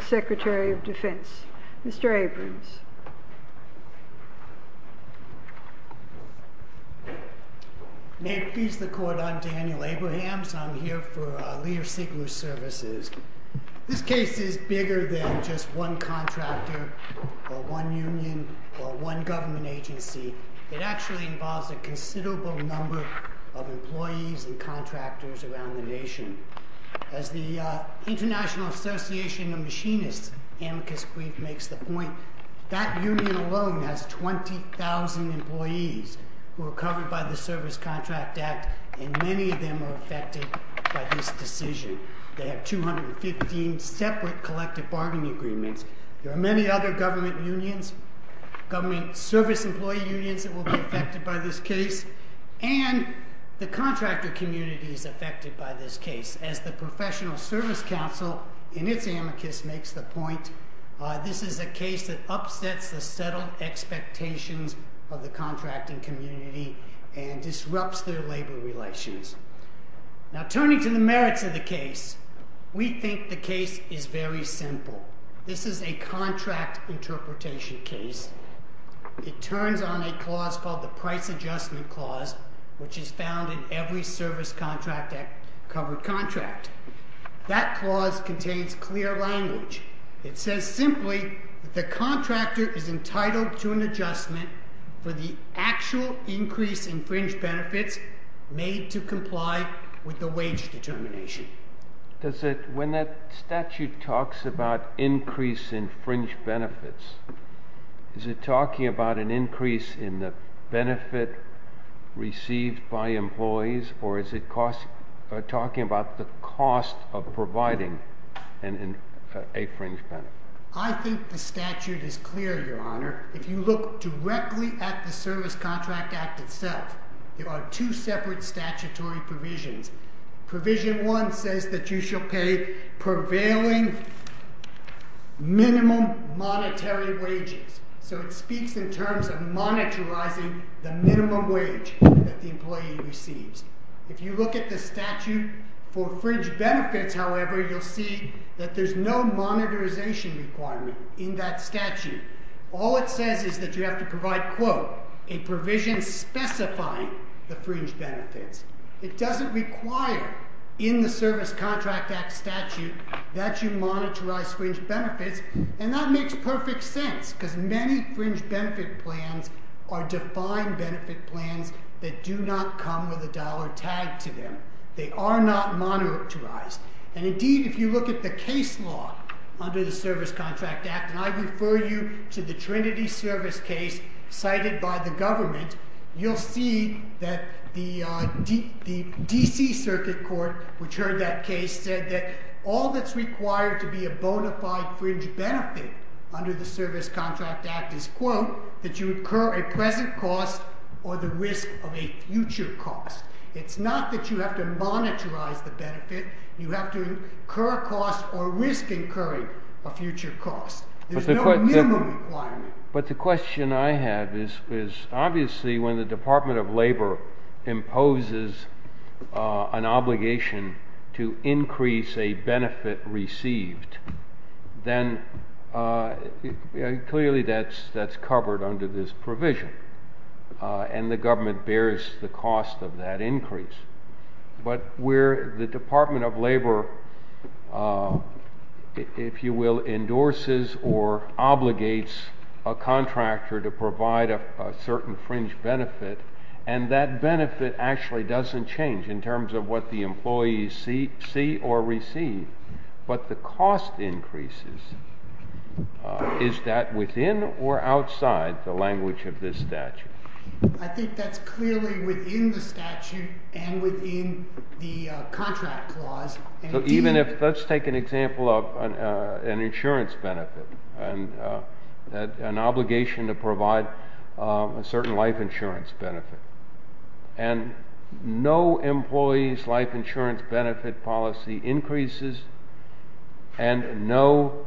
Secretary of Defense, Mr. Abrams. May it please the Court, I'm Daniel Abrahams, and I'm here for Lear Siegler Services. This case is bigger than just one contractor, or one union, or one government agency, it actually involves a considerable number of employees and contractors around the nation. As the International Association of Machinists, Amicus Grief, makes the point, that union alone has 20,000 employees who are covered by the Service Contract Act, and many of them are affected by this decision. They have 215 separate collective bargaining agreements. There are many other government unions, government service employee unions that will be affected by this case, and the contractor community is affected by this case, as the Professional Service Council, in its Amicus, makes the point, this is a case that upsets the settled expectations of the contracting community, and disrupts their labor relations. Now turning to the merits of the case, we think the case is very simple. This is a contract interpretation case. It turns on a clause called the Price Adjustment Clause, which is found in every Service Contract Act covered contract. That clause contains clear language. It says simply, the contractor is entitled to an adjustment for the actual increase in fringe benefits made to comply with the wage determination. When that statute talks about increase in fringe benefits, is it talking about an increase in the benefit received by employees, or is it talking about the cost of providing a fringe benefit? I think the statute is clear, Your Honor. If you look directly at the Service Contract Act itself, there are two separate statutory provisions. Provision 1 says that you shall pay prevailing minimum monetary wages. So it speaks in terms of monetarizing the minimum wage that the employee receives. If you look at the statute for fringe benefits, however, you'll see that there's no monetarization requirement in that statute. All it says is that you have to provide, quote, a provision specifying the fringe benefits. It doesn't require in the Service Contract Act statute that you monetarize fringe benefits. And that makes perfect sense, because many fringe benefit plans are defined benefit plans that do not come with a dollar tag to them. They are not monetarized. And indeed, if you look at the case law under the Service Contract Act, and I refer you to the Trinity Service case cited by the government, you'll see that the D.C. Circuit Court, which heard that case, said that all that's required to be a bona fide fringe benefit under the Service Contract Act is, quote, that you incur a present cost or the risk of a future cost. It's not that you have to monetarize the benefit. You have to incur a cost or risk incurring a future cost. There's no minimum requirement. But the question I have is, obviously, when the Department of Labor imposes an obligation to increase a benefit received, then clearly that's covered under this provision. And the government bears the cost of that increase. But where the Department of Labor, if you will, endorses or obligates a contractor to provide a certain fringe benefit, and that benefit actually doesn't change in terms of what the employees see or receive. But the cost increases. Is that within or outside the language of this statute? I think that's clearly within the statute and within the contract clause. Even if, let's take an example of an insurance benefit and an obligation to provide a certain life insurance benefit. And no employee's life insurance benefit policy increases and no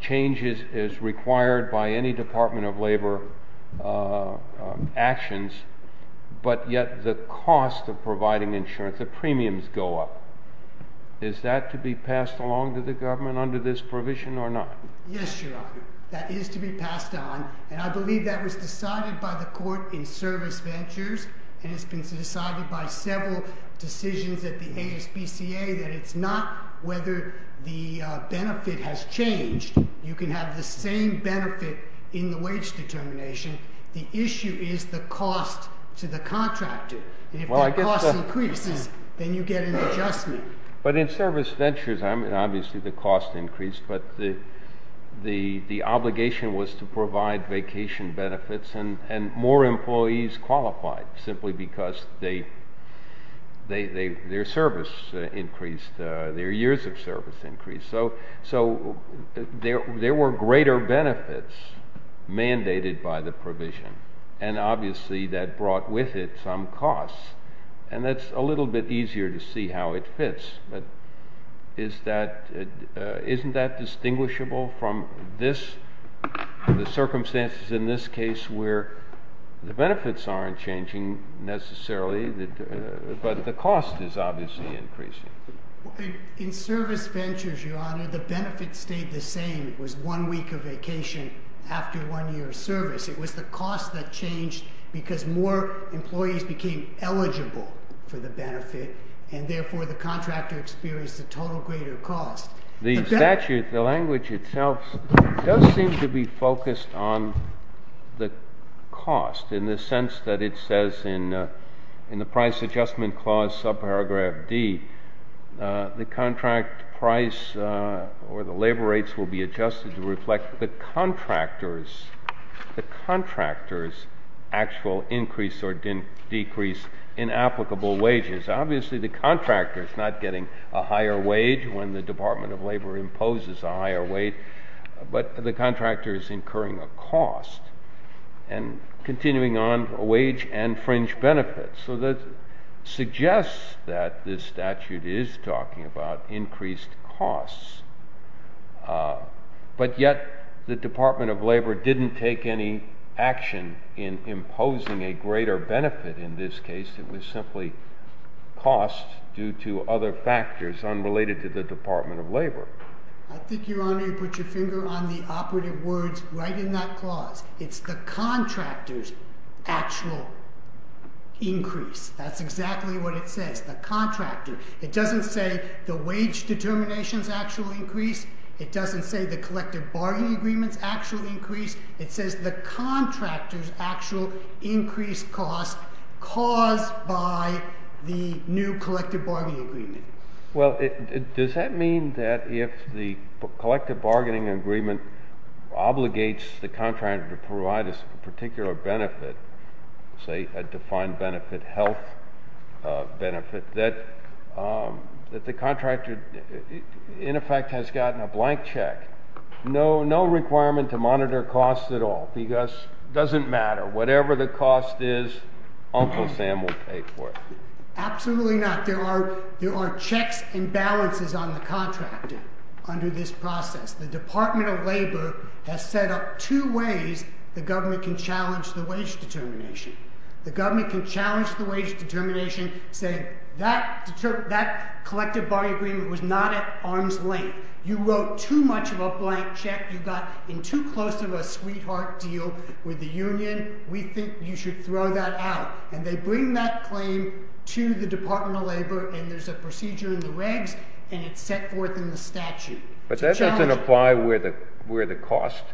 change is required by any Department of Labor actions. But yet the cost of providing insurance, the premiums go up. Is that to be passed along to the government under this provision or not? Yes, Your Honor. That is to be passed on. And I believe that was decided by the court in service ventures. And it's been decided by several decisions at the ASPCA that it's not whether the benefit has changed. You can have the same benefit in the wage determination. The issue is the cost to the contractor. And if the cost increases, then you get an adjustment. But in service ventures, obviously the cost increased, but the obligation was to provide vacation benefits and more employees qualified simply because their service increased, their years of service increased. So there were greater benefits mandated by the provision, and obviously that brought with it some costs. And that's a little bit easier to see how it fits. But isn't that distinguishable from the circumstances in this case where the benefits aren't changing necessarily, but the cost is obviously increasing? In service ventures, Your Honor, the benefit stayed the same. It was one week of vacation after one year of service. It was the cost that changed because more employees became eligible for the benefit and therefore the contractor experienced a total greater cost. The statute, the language itself, does seem to be focused on the cost in the sense that it says in the price adjustment clause, subparagraph D, the contract price or the labor rates will be adjusted to reflect the contractor's actual increase or decrease in applicable wages. Obviously the contractor is not getting a higher wage when the Department of Labor imposes a higher wage, but the contractor is incurring a cost. And continuing on, wage and fringe benefits. So that suggests that this statute is talking about increased costs. But yet the Department of Labor didn't take any action in imposing a greater benefit in this case. It was simply cost due to other factors unrelated to the Department of Labor. I think, Your Honor, you put your finger on the operative words right in that clause. It's the contractor's actual increase. That's exactly what it says. The contractor. It doesn't say the wage determination's actual increase. It doesn't say the collective bargaining agreement's actual increase. It says the contractor's actual increased cost caused by the new collective bargaining agreement. Well, does that mean that if the collective bargaining agreement obligates the contractor to provide us a particular benefit, say a defined benefit, health benefit, that the contractor, in effect, has gotten a blank check? No requirement to monitor costs at all because it doesn't matter. Whatever the cost is, Uncle Sam will pay for it. Absolutely not. There are checks and balances on the contractor under this process. The Department of Labor has set up two ways the government can challenge the wage determination. The government can challenge the wage determination saying that collective bargaining agreement was not at arm's length. You wrote too much of a blank check. You got in too close of a sweetheart deal with the union. We think you should throw that out. And they bring that claim to the Department of Labor and there's a procedure in the regs and it's set forth in the statute. But that doesn't apply where the cost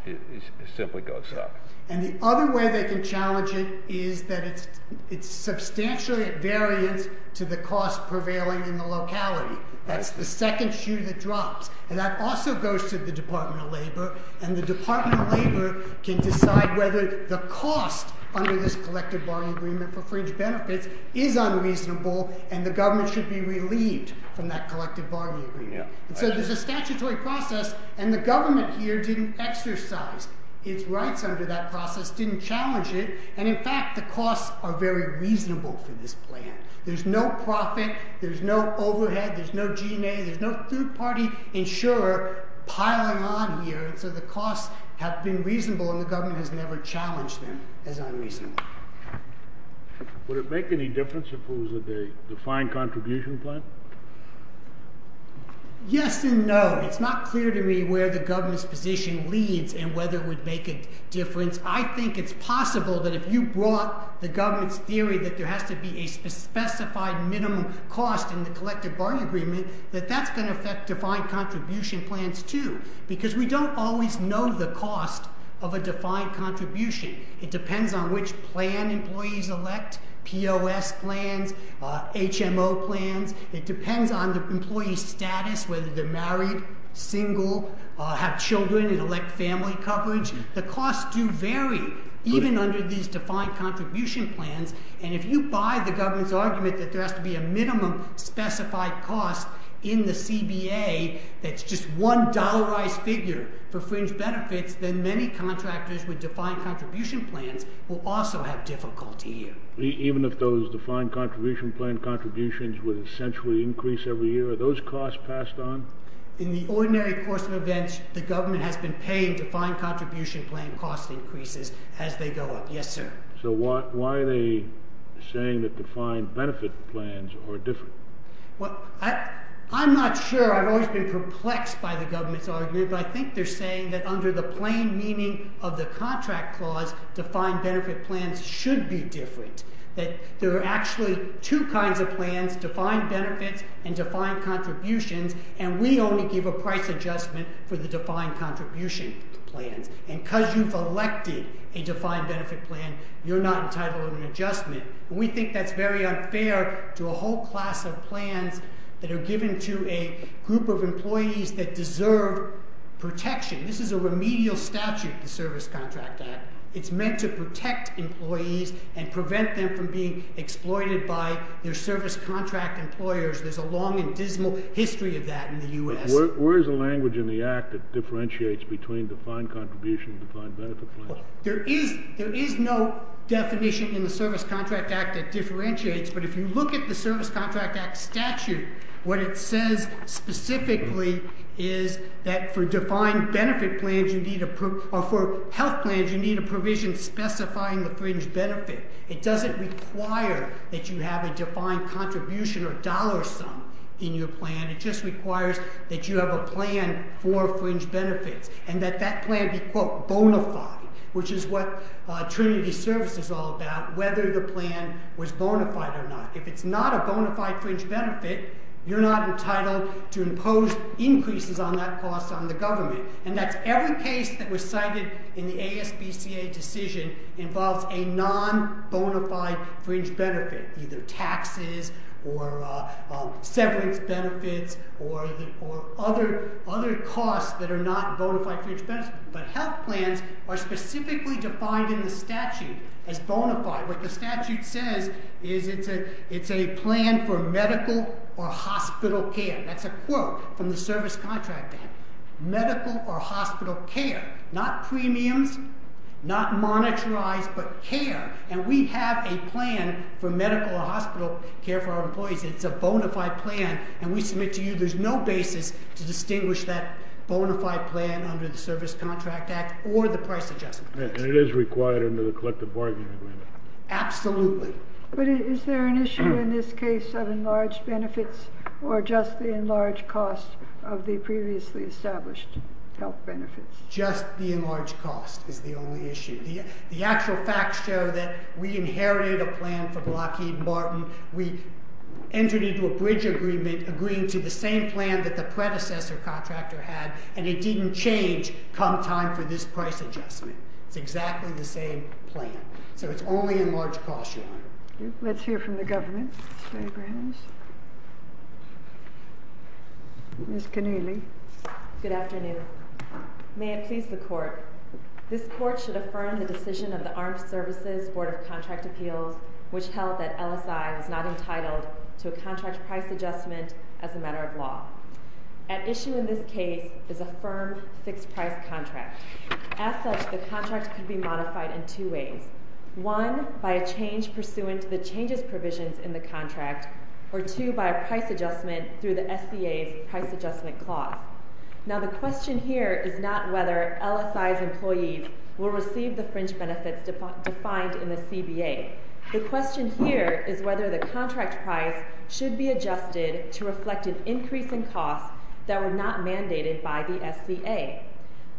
simply goes up. And the other way they can challenge it is that it's substantially at variance to the cost prevailing in the locality. That's the second shoe that drops. And that also goes to the Department of Labor. And the Department of Labor can decide whether the cost under this collective bargaining agreement for fringe benefits is unreasonable and the government should be relieved from that collective bargaining agreement. So there's a statutory process and the government here didn't exercise its rights under that process, didn't challenge it. And in fact the costs are very reasonable for this plan. There's no profit, there's no overhead, there's no G&A, there's no third party insurer piling on here. So the costs have been reasonable and the government has never challenged them as unreasonable. Would it make any difference if it was a defined contribution plan? Yes and no. It's not clear to me where the government's position leads and whether it would make a difference. I think it's possible that if you brought the government's theory that there has to be a specified minimum cost in the collective bargaining agreement, that that's going to affect defined contribution plans too. Because we don't always know the cost of a defined contribution. It depends on which plan employees elect, POS plans, HMO plans. It depends on the employee's status, whether they're married, single, have children and elect family coverage. The costs do vary even under these defined contribution plans. And if you buy the government's argument that there has to be a minimum specified cost in the CBA that's just one dollarized figure for fringe benefits, then many contractors with defined contribution plans will also have difficulty here. Even if those defined contribution plan contributions would essentially increase every year, are those costs passed on? In the ordinary course of events, the government has been paying defined contribution plan cost increases as they go up. Yes, sir. So why are they saying that defined benefit plans are different? Well, I'm not sure. I've always been perplexed by the government's argument, but I think they're saying that under the plain meaning of the contract clause, defined benefit plans should be different. That there are actually two kinds of plans, defined benefits and defined contributions, and we only give a price adjustment for the defined contribution plans. you're not entitled to an adjustment. We think that's very unfair to a whole class of plans that are given to a group of employees that deserve protection. This is a remedial statute, the Service Contract Act. It's meant to protect employees and prevent them from being exploited by their service contract employers. There's a long and dismal history of that in the U.S. But where is the language in the Act that differentiates between defined contribution and defined benefit plans? There is no definition in the Service Contract Act that differentiates, but if you look at the Service Contract Act statute, what it says specifically is that for defined benefit plans or for health plans, you need a provision specifying the fringe benefit. It doesn't require that you have a defined contribution or dollar sum in your plan. It just requires that you have a plan for fringe benefits and that that plan be, quote, bona fide, which is what Trinity Service is all about, whether the plan was bona fide or not. If it's not a bona fide fringe benefit, you're not entitled to impose increases on that cost on the government. And that's every case that was cited in the ASBCA decision involves a non-bona fide fringe benefit, either taxes or severance benefits or other costs that are not bona fide fringe benefits. But health plans are specifically defined in the statute as bona fide. What the statute says is it's a plan for medical or hospital care. That's a quote from the Service Contract Act. Medical or hospital care. Not premiums, not monetarized, but care. And we have a plan for medical or hospital care for our employees. It's a bona fide plan. And we submit to you there's no basis to distinguish that bona fide plan under the Service Contract Act or the price adjustment plan. It is required under the collective bargaining agreement. Absolutely. But is there an issue in this case of enlarged benefits or just the enlarged cost of the previously established health benefits? Just the enlarged cost is the only issue. The actual facts show that we inherited a plan from Lockheed Martin. We entered into a bridge agreement agreeing to the same plan that the predecessor contractor had and it didn't change come time for this price adjustment. It's exactly the same plan. So it's only enlarged cost, Your Honor. Let's hear from the government. Ms. Keneally. Good afternoon. May it please the Court. This Court should affirm the decision of the Armed Services Board of Contract Appeals which held that LSI was not entitled to a contract price adjustment as a matter of law. At issue in this case is a firm fixed price contract. As such, the contract could be modified in two ways. One, by a change pursuant to the changes provisions in the contract or two, by a price adjustment through the SBA's price adjustment clause. Now the question here is not whether LSI's employees will receive the fringe benefits defined in the SBA. The question here is whether the contract price should be adjusted to reflect an increase in costs that were not mandated by the SBA.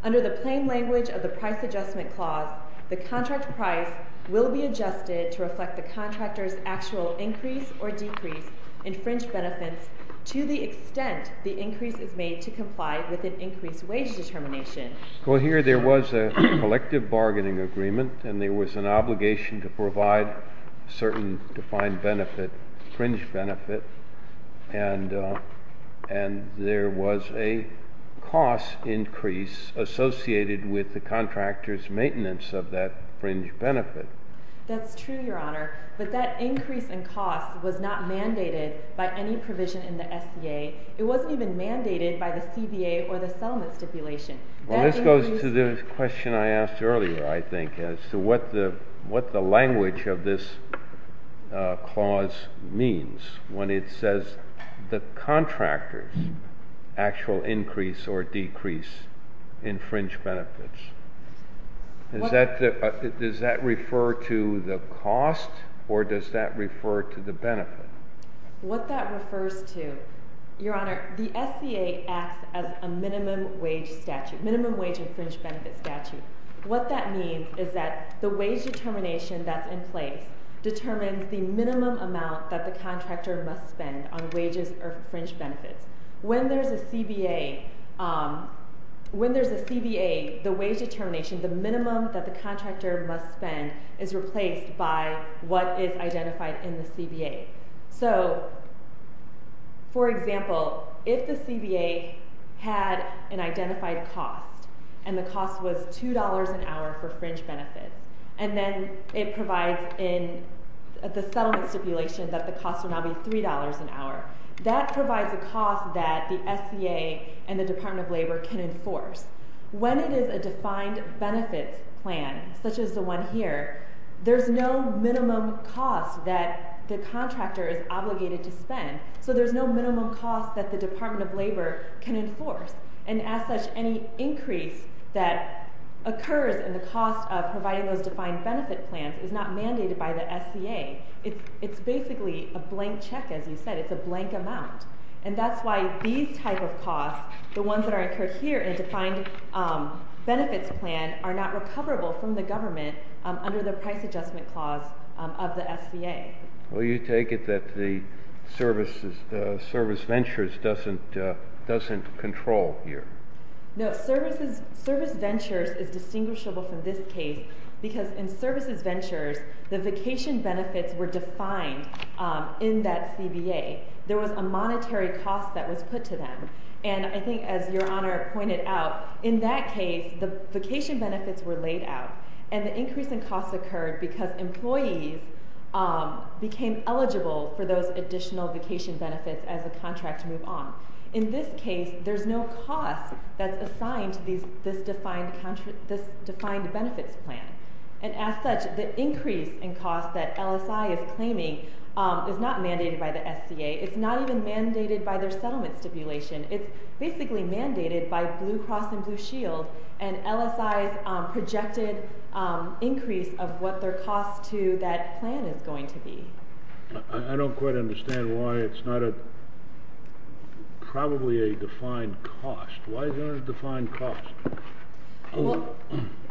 Under the plain language of the price adjustment clause, the contract price will be adjusted to reflect the contractor's actual increase or decrease in fringe benefits to the extent the increase is made to comply with an increased wage determination. Well, here there was a collective bargaining agreement and there was an obligation to provide certain defined benefit, fringe benefit and there was a cost increase associated with the contractor's maintenance of that fringe benefit. That's true, Your Honor. But that increase in cost was not mandated by any provision in the SBA. It wasn't even mandated by the CBA or the settlement stipulation. Well, this goes to the question I asked earlier I think as to what the language of this clause means when it says the contractor's actual increase or decrease in fringe benefits. Does that refer to the cost or does that refer to the benefit? What that refers to Your Honor, the SBA acts as a minimum wage statute, minimum wage and fringe benefit statute. What that means is that the wage determination that's in place determines the minimum amount that the contractor must spend on wages or fringe benefits. When there's a CBA when there's a CBA, the wage determination the minimum that the contractor must spend is replaced by what is identified in the CBA. So for example if the CBA had an identified cost and the cost was $2 an hour for fringe benefits and then it provides in the settlement stipulation that the cost would now be $3 an hour. That provides a cost that the SBA and the Department of Labor can enforce. When it is a defined benefits plan, such as the one here, there's no minimum cost that the contractor is obligated to spend. So there's no minimum cost that the Department of Labor can enforce. And as such, any increase that occurs in the cost of providing those defined benefit plans is not mandated by the SBA. It's basically a blank check as you said. It's a blank amount. And that's why these type of costs the ones that are incurred here in a defined benefits plan are not recoverable from the government under the price adjustment clause of the SBA. Well, you take it that the service ventures doesn't control here. No. Service ventures is distinguishable from this case because in services ventures the vacation benefits were defined in that CBA. There was a monetary cost that was put to them. And I think as Your Honor pointed out, in that case, the vacation benefits were laid out and the increase in cost occurred because employees became eligible for those additional vacation benefits as the contract moved on. In this case, there's no cost that's assigned to this defined benefits plan. And as such, the increase in cost that LSI is claiming is not mandated by the SBA. It's not even mandated by their settlement stipulation. It's basically mandated by Blue Cross and Blue Shield and LSI's projected increase of what their cost to that plan is going to be. I don't quite understand why it's not a probably a defined cost. Why isn't it a defined cost? Well,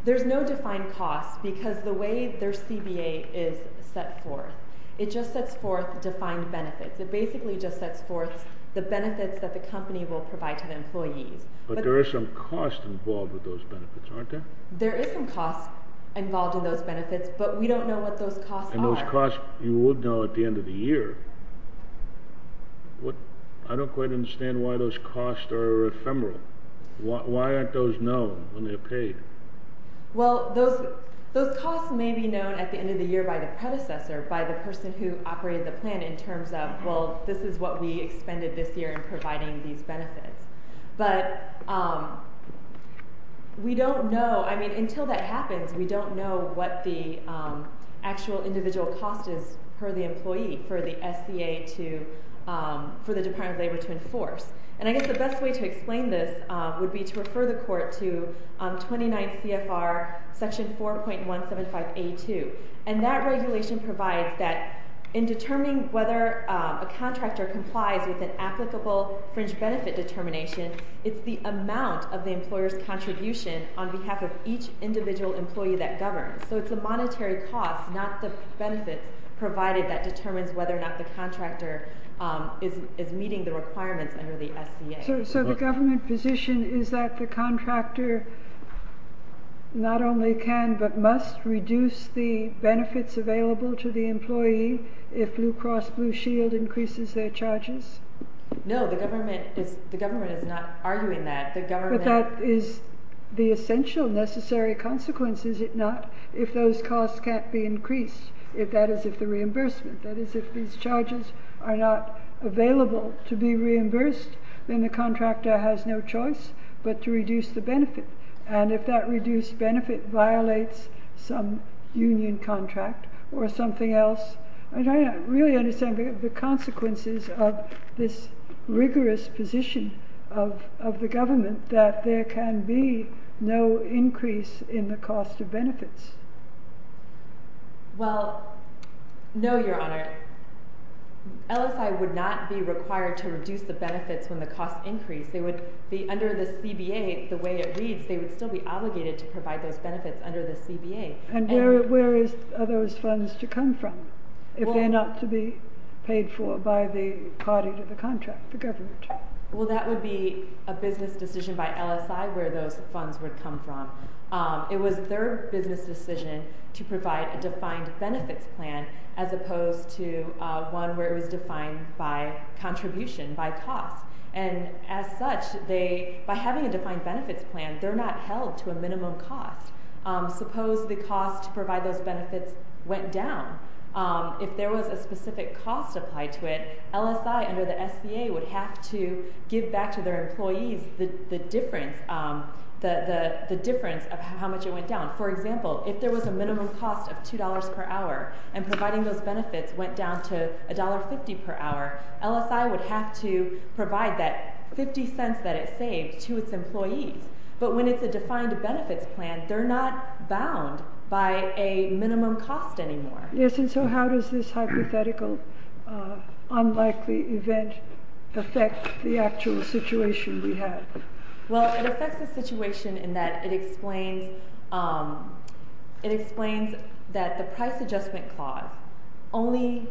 there's no defined cost because the way their CBA is set forth, it just sets forth defined benefits. It basically just sets forth the benefits that the company will provide to the employees. But there is some cost involved with those benefits, but we don't know what those costs are. And those costs, you would know at the end of the year. I don't quite understand why those costs are ephemeral. Why aren't those known when they're paid? Well, those costs may be known at the end of the year by the predecessor, by the person who operated the plan in terms of, well, this is what we expended this year in providing these benefits. But we don't know. Until that happens, we don't know what the actual individual cost is per the employee for the SCA to for the Department of Labor to enforce. And I guess the best way to explain this would be to refer the court to 29 CFR section 4.175A2. And that regulation provides that in determining whether a contractor complies with an applicable fringe benefit determination, it's the amount of the each individual employee that governs. So it's the monetary cost, not the benefits provided that determines whether or not the contractor is meeting the requirements under the SCA. So the government position is that the contractor not only can but must reduce the benefits available to the employee if Blue Cross Blue Shield increases their charges? No, the government is not arguing that. But that is the essential necessary consequence, is it not, if those costs can't be increased, that is if the reimbursement, that is if these charges are not available to be reimbursed, then the contractor has no choice but to reduce the benefit. And if that reduced benefit violates some union contract or something else, I don't really understand the consequences of this rigorous position of the government that there can be no increase in the cost of benefits. Well, no, Your Honor. LSI would not be required to reduce the benefits when the costs increase. They would under the CBA, the way it reads, they would still be obligated to provide those benefits under the CBA. And where are those funds to come from if they're not to be paid for by the party to the contract, the government? Well, that would be a business decision by LSI where those funds would come from. It was their business decision to provide a defined benefits plan as opposed to one where it was defined by contribution, by cost. And as such, they, by having a defined benefits plan, they're not held to a minimum cost. Suppose the cost to provide those benefits went down. If there was a specific cost applied to it, LSI under the SBA would have to give back to their employees the difference of how much it went down. For example, if there was a minimum cost of $2 per hour and providing those benefits went down to $1.50 per hour, LSI would have to provide that 50 cents that it saved to its employees. But when it's a defined benefits plan, they're not bound by a minimum cost anymore. Yes, and so how does this hypothetical unlikely event affect the actual situation we have? Well, it affects the situation in that it explains it explains that the price adjustment clause only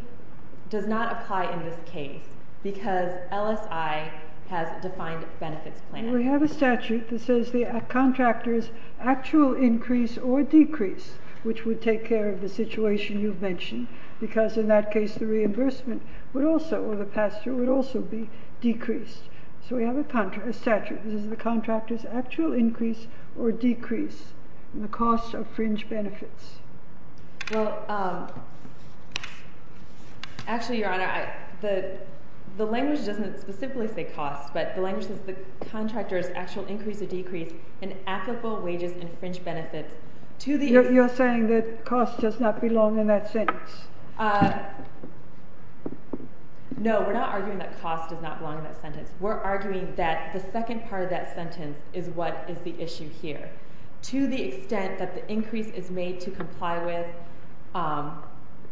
does not apply in this case because LSI has a defined benefits plan. We have a statute that says the contractor's actual increase or decrease, which would take care of the situation you've mentioned, because in that case the reimbursement would also, or the pass-through, would also be decreased. So we have a statute. This is the contractor's actual increase or decrease in the cost of fringe benefits. Well, actually, Your Honor, the language doesn't specifically say cost, but the language says the contractor's actual increase or decrease in applicable wages and fringe benefits You're saying that cost does not belong in that sentence. No, we're not arguing that cost does not belong in that sentence. We're arguing that the second part of that sentence is what is the issue here. To the extent that the increase is made to comply with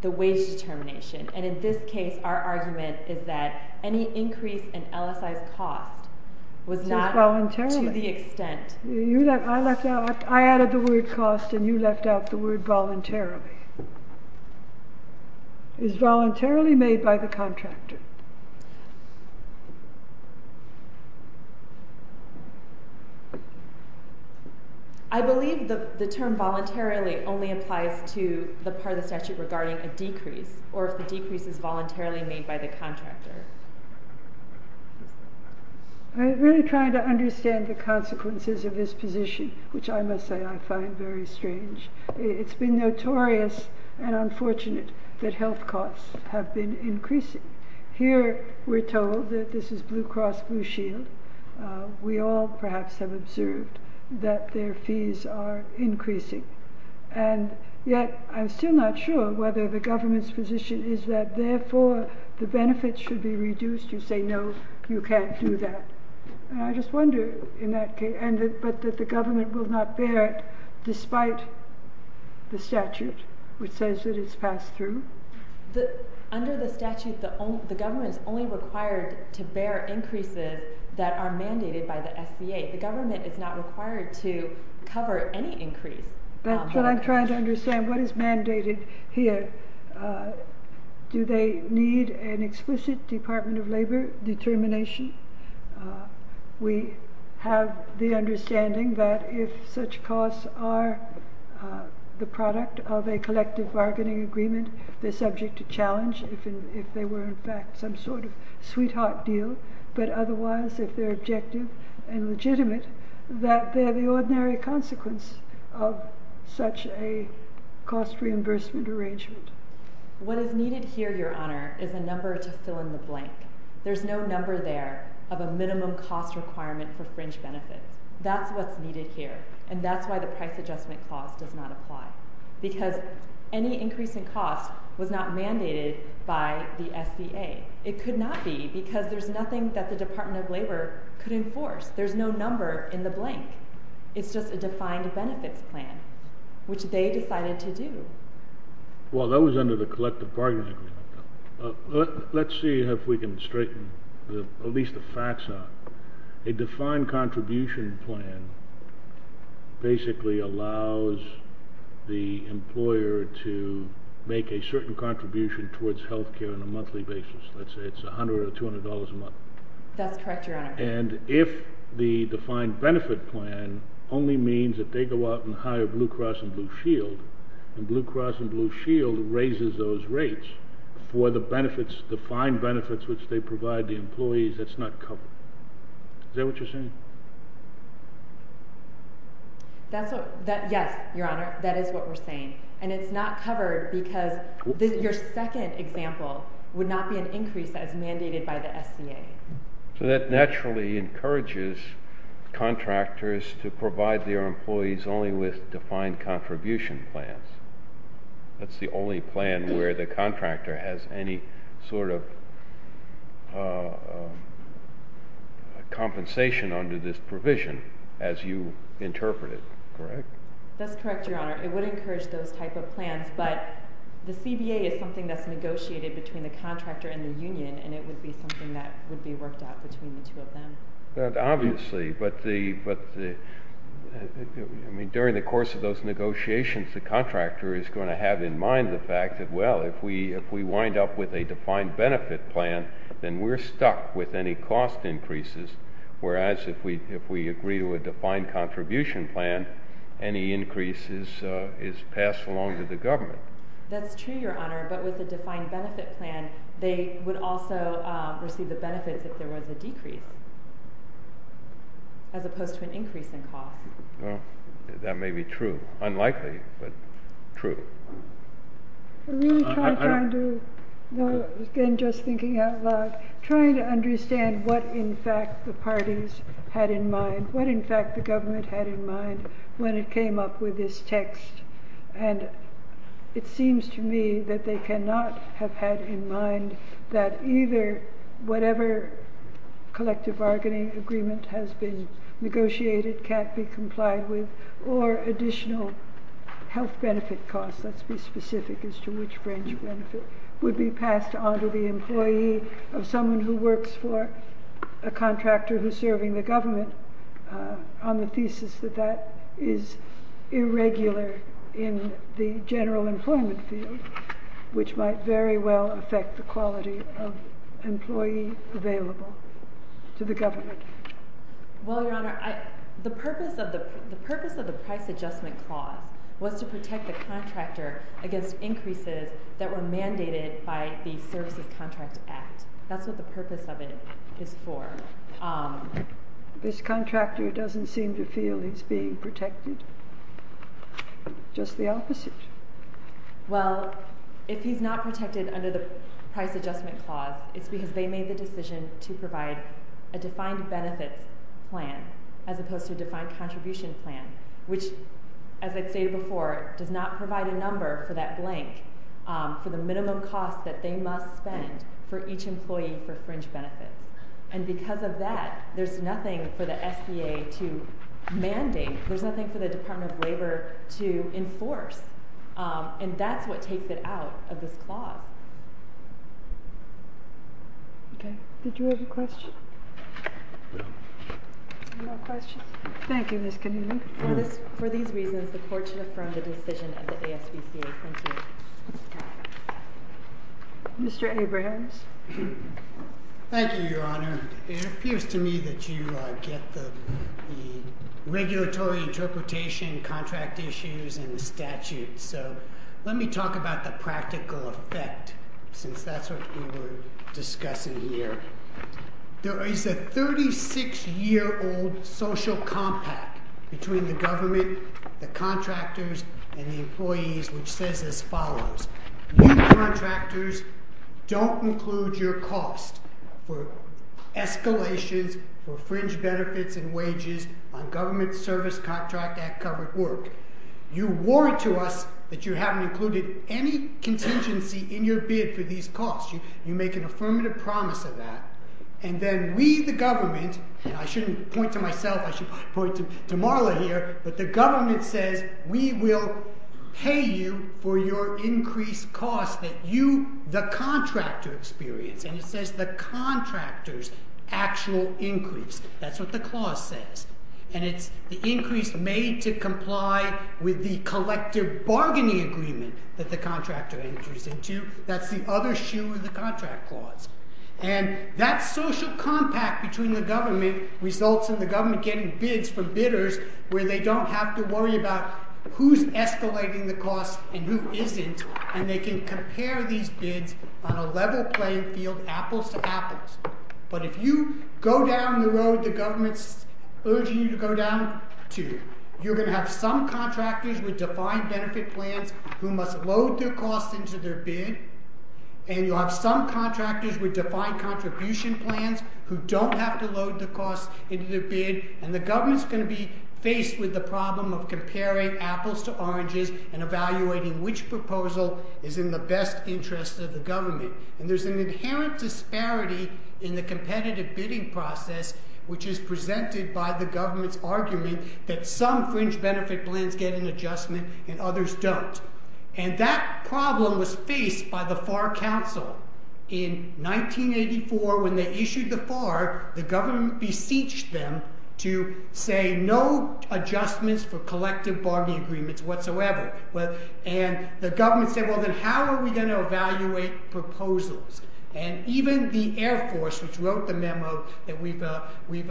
the wage determination, and in this case our argument is that any increase in LSI's cost was not to the extent I added the word cost and you left out the word voluntarily. Is voluntarily made by the contractor? I believe the term voluntarily only applies to the part of the statute regarding a decrease, or if the decrease is voluntarily made by the contractor. I'm really trying to understand the consequences of this position, which I must say I find very strange. It's been notorious and unfortunate that health costs have been increasing. Here, we're told that this is Blue Cross Blue Shield. We all, perhaps, have observed that their fees are increasing. And yet, I'm still not sure whether the government's position is that therefore the benefits should be reduced. You say no, you can't do that. I just wonder, but that the government will not bear it despite the statute which says that it's passed through? Under the statute, the government is only required to bear increases that are mandated by the SBA. The government is not required to cover any increase. That's what I'm trying to understand. What is mandated here? Do they need an elimination? We have the understanding that if such costs are the product of a collective bargaining agreement, they're subject to challenge if they were, in fact, some sort of sweetheart deal. But otherwise, if they're objective and legitimate, that they're the ordinary consequence of such a cost reimbursement arrangement. What is needed here, Your Honor, is a number to there of a minimum cost requirement for fringe benefits. That's what's needed here, and that's why the price adjustment clause does not apply. Because any increase in cost was not mandated by the SBA. It could not be because there's nothing that the Department of Labor could enforce. There's no number in the blank. It's just a defined benefits plan, which they decided to do. Well, that was under the collective bargaining agreement. Let's see if we can straighten at least the facts out. A defined contribution plan basically allows the employer to make a certain contribution towards health care on a monthly basis. Let's say it's $100 or $200 a month. That's correct, Your Honor. And if the defined benefit plan only means that they go out and hire Blue Cross and Blue Shield, and Blue Cross and Blue Shield raises those rates for the defined benefits which they provide the employees, that's not covered. Is that what you're saying? Yes, Your Honor. That is what we're saying. And it's not covered because your second example would not be an increase that is mandated by the SBA. So that naturally encourages contractors to provide their employees only with defined contribution plans. That's the only plan where the contractor has any sort of compensation under this provision as you interpreted. Correct? That's correct, Your Honor. It would encourage those type of plans, but the CBA is something that's negotiated between the contractor and the union, and it would be something that would be worked out between the two of them. Obviously, but the I mean, during the course of those negotiations, the contractor is going to have in mind the fact that, well, if we wind up with a defined benefit plan, then we're stuck with any cost increases, whereas if we agree to a defined contribution plan, any increase is passed along to the government. That's true, Your Honor, but with a defined receive the benefits if there was a decrease as opposed to an increase in cost. Well, that may be true. Unlikely, but true. Again, just thinking out loud, trying to understand what, in fact, the parties had in mind, what, in fact, the government had in mind when it came up with this text. And it seems to me that they cannot have had in mind that either whatever collective bargaining agreement has been complied with or additional health benefit costs, let's be specific as to which range would be passed on to the employee of someone who works for a contractor who's serving the government on the thesis that that is irregular in the general employment field, which might very well affect the quality of employee available to the government. Well, Your Honor, the purpose of the price adjustment clause was to protect the contractor against increases that were mandated by the Services Contract Act. That's what the purpose of it is for. This contractor doesn't seem to feel he's being protected? Just the opposite. Well, if he's not protected under the price adjustment clause, it's because they made the decision to provide a defined benefits plan as opposed to a defined contribution plan, which as I stated before, does not provide a number for that blank for the minimum cost that they must spend for each employee for fringe benefits. And because of that, there's nothing for the SBA to mandate. There's nothing for the Department of Labor to enforce. And that's what takes it out of this clause. Okay. Did you have a question? No. Any more questions? Thank you, Ms. Keneally. For these reasons, the Court should affirm the decision of the ASPCA. Thank you. Mr. Abrahams. Thank you, Your Honor. It appears to me that you get the regulatory interpretation, contract issues, and the statute. So let me talk about the practical effect since that's what we were discussing here. There is a 36-year old social compact between the government, the contractors, and the employees which says as follows. You contractors don't include your cost for escalations for fringe benefits and wages on government service contract act covered work. You warn to us that you haven't included any contingency in your bid for these costs. You make an affirmative promise of that. And then we, the government, and I shouldn't point to myself, I should point to Marla here, but the government says we will pay you for your increased costs that you, the contractor, experience. And it says the contractor's actual increase. That's what the clause says. And it's the increase made to comply with the that the contractor enters into. That's the other shoe of the contract clause. And that social compact between the government results in the government getting bids from bidders where they don't have to worry about who's escalating the cost and who isn't. And they can compare these bids on a level playing field, apples to apples. But if you go down the road the government's urging you to go down to, you're going to have some contractors with load their costs into their bid and you'll have some contractors with defined contribution plans who don't have to load the costs into their bid. And the government's going to be faced with the problem of comparing apples to oranges and evaluating which proposal is in the best interest of the government. And there's an inherent disparity in the competitive bidding process which is presented by the government's argument that some fringe benefit plans get an adjustment and others don't. And that problem was faced by the FAR Council in 1984 when they issued the FAR, the government beseeched them to say no adjustments for collective bargaining agreements whatsoever. And the government said well then how are we going to evaluate proposals? And even the Air Force which wrote the memo that we've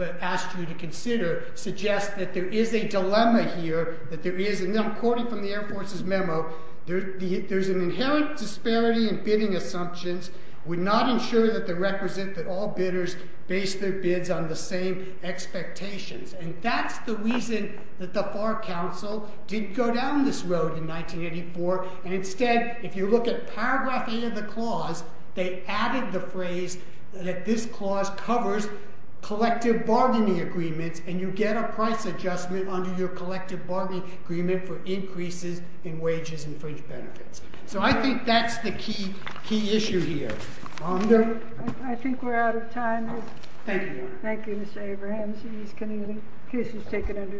asked you to consider suggests that there is a dilemma here that there is, and I'm quoting from the Air Force's memo, there's an inherent disparity in bidding assumptions would not ensure that they represent that all bidders base their bids on the same expectations. And that's the reason that the FAR Council did go down this road in 1984 and instead if you look at paragraph 8 of the clause they added the phrase that this clause covers collective bargaining agreements and you get a price adjustment under your collective bargaining agreement for increases in wages and fringe benefits. So I think that's the key issue here. I think we're out of time. Thank you. Thank you Mr. Abrahams and Ms. Keneally. The case is taken under submission.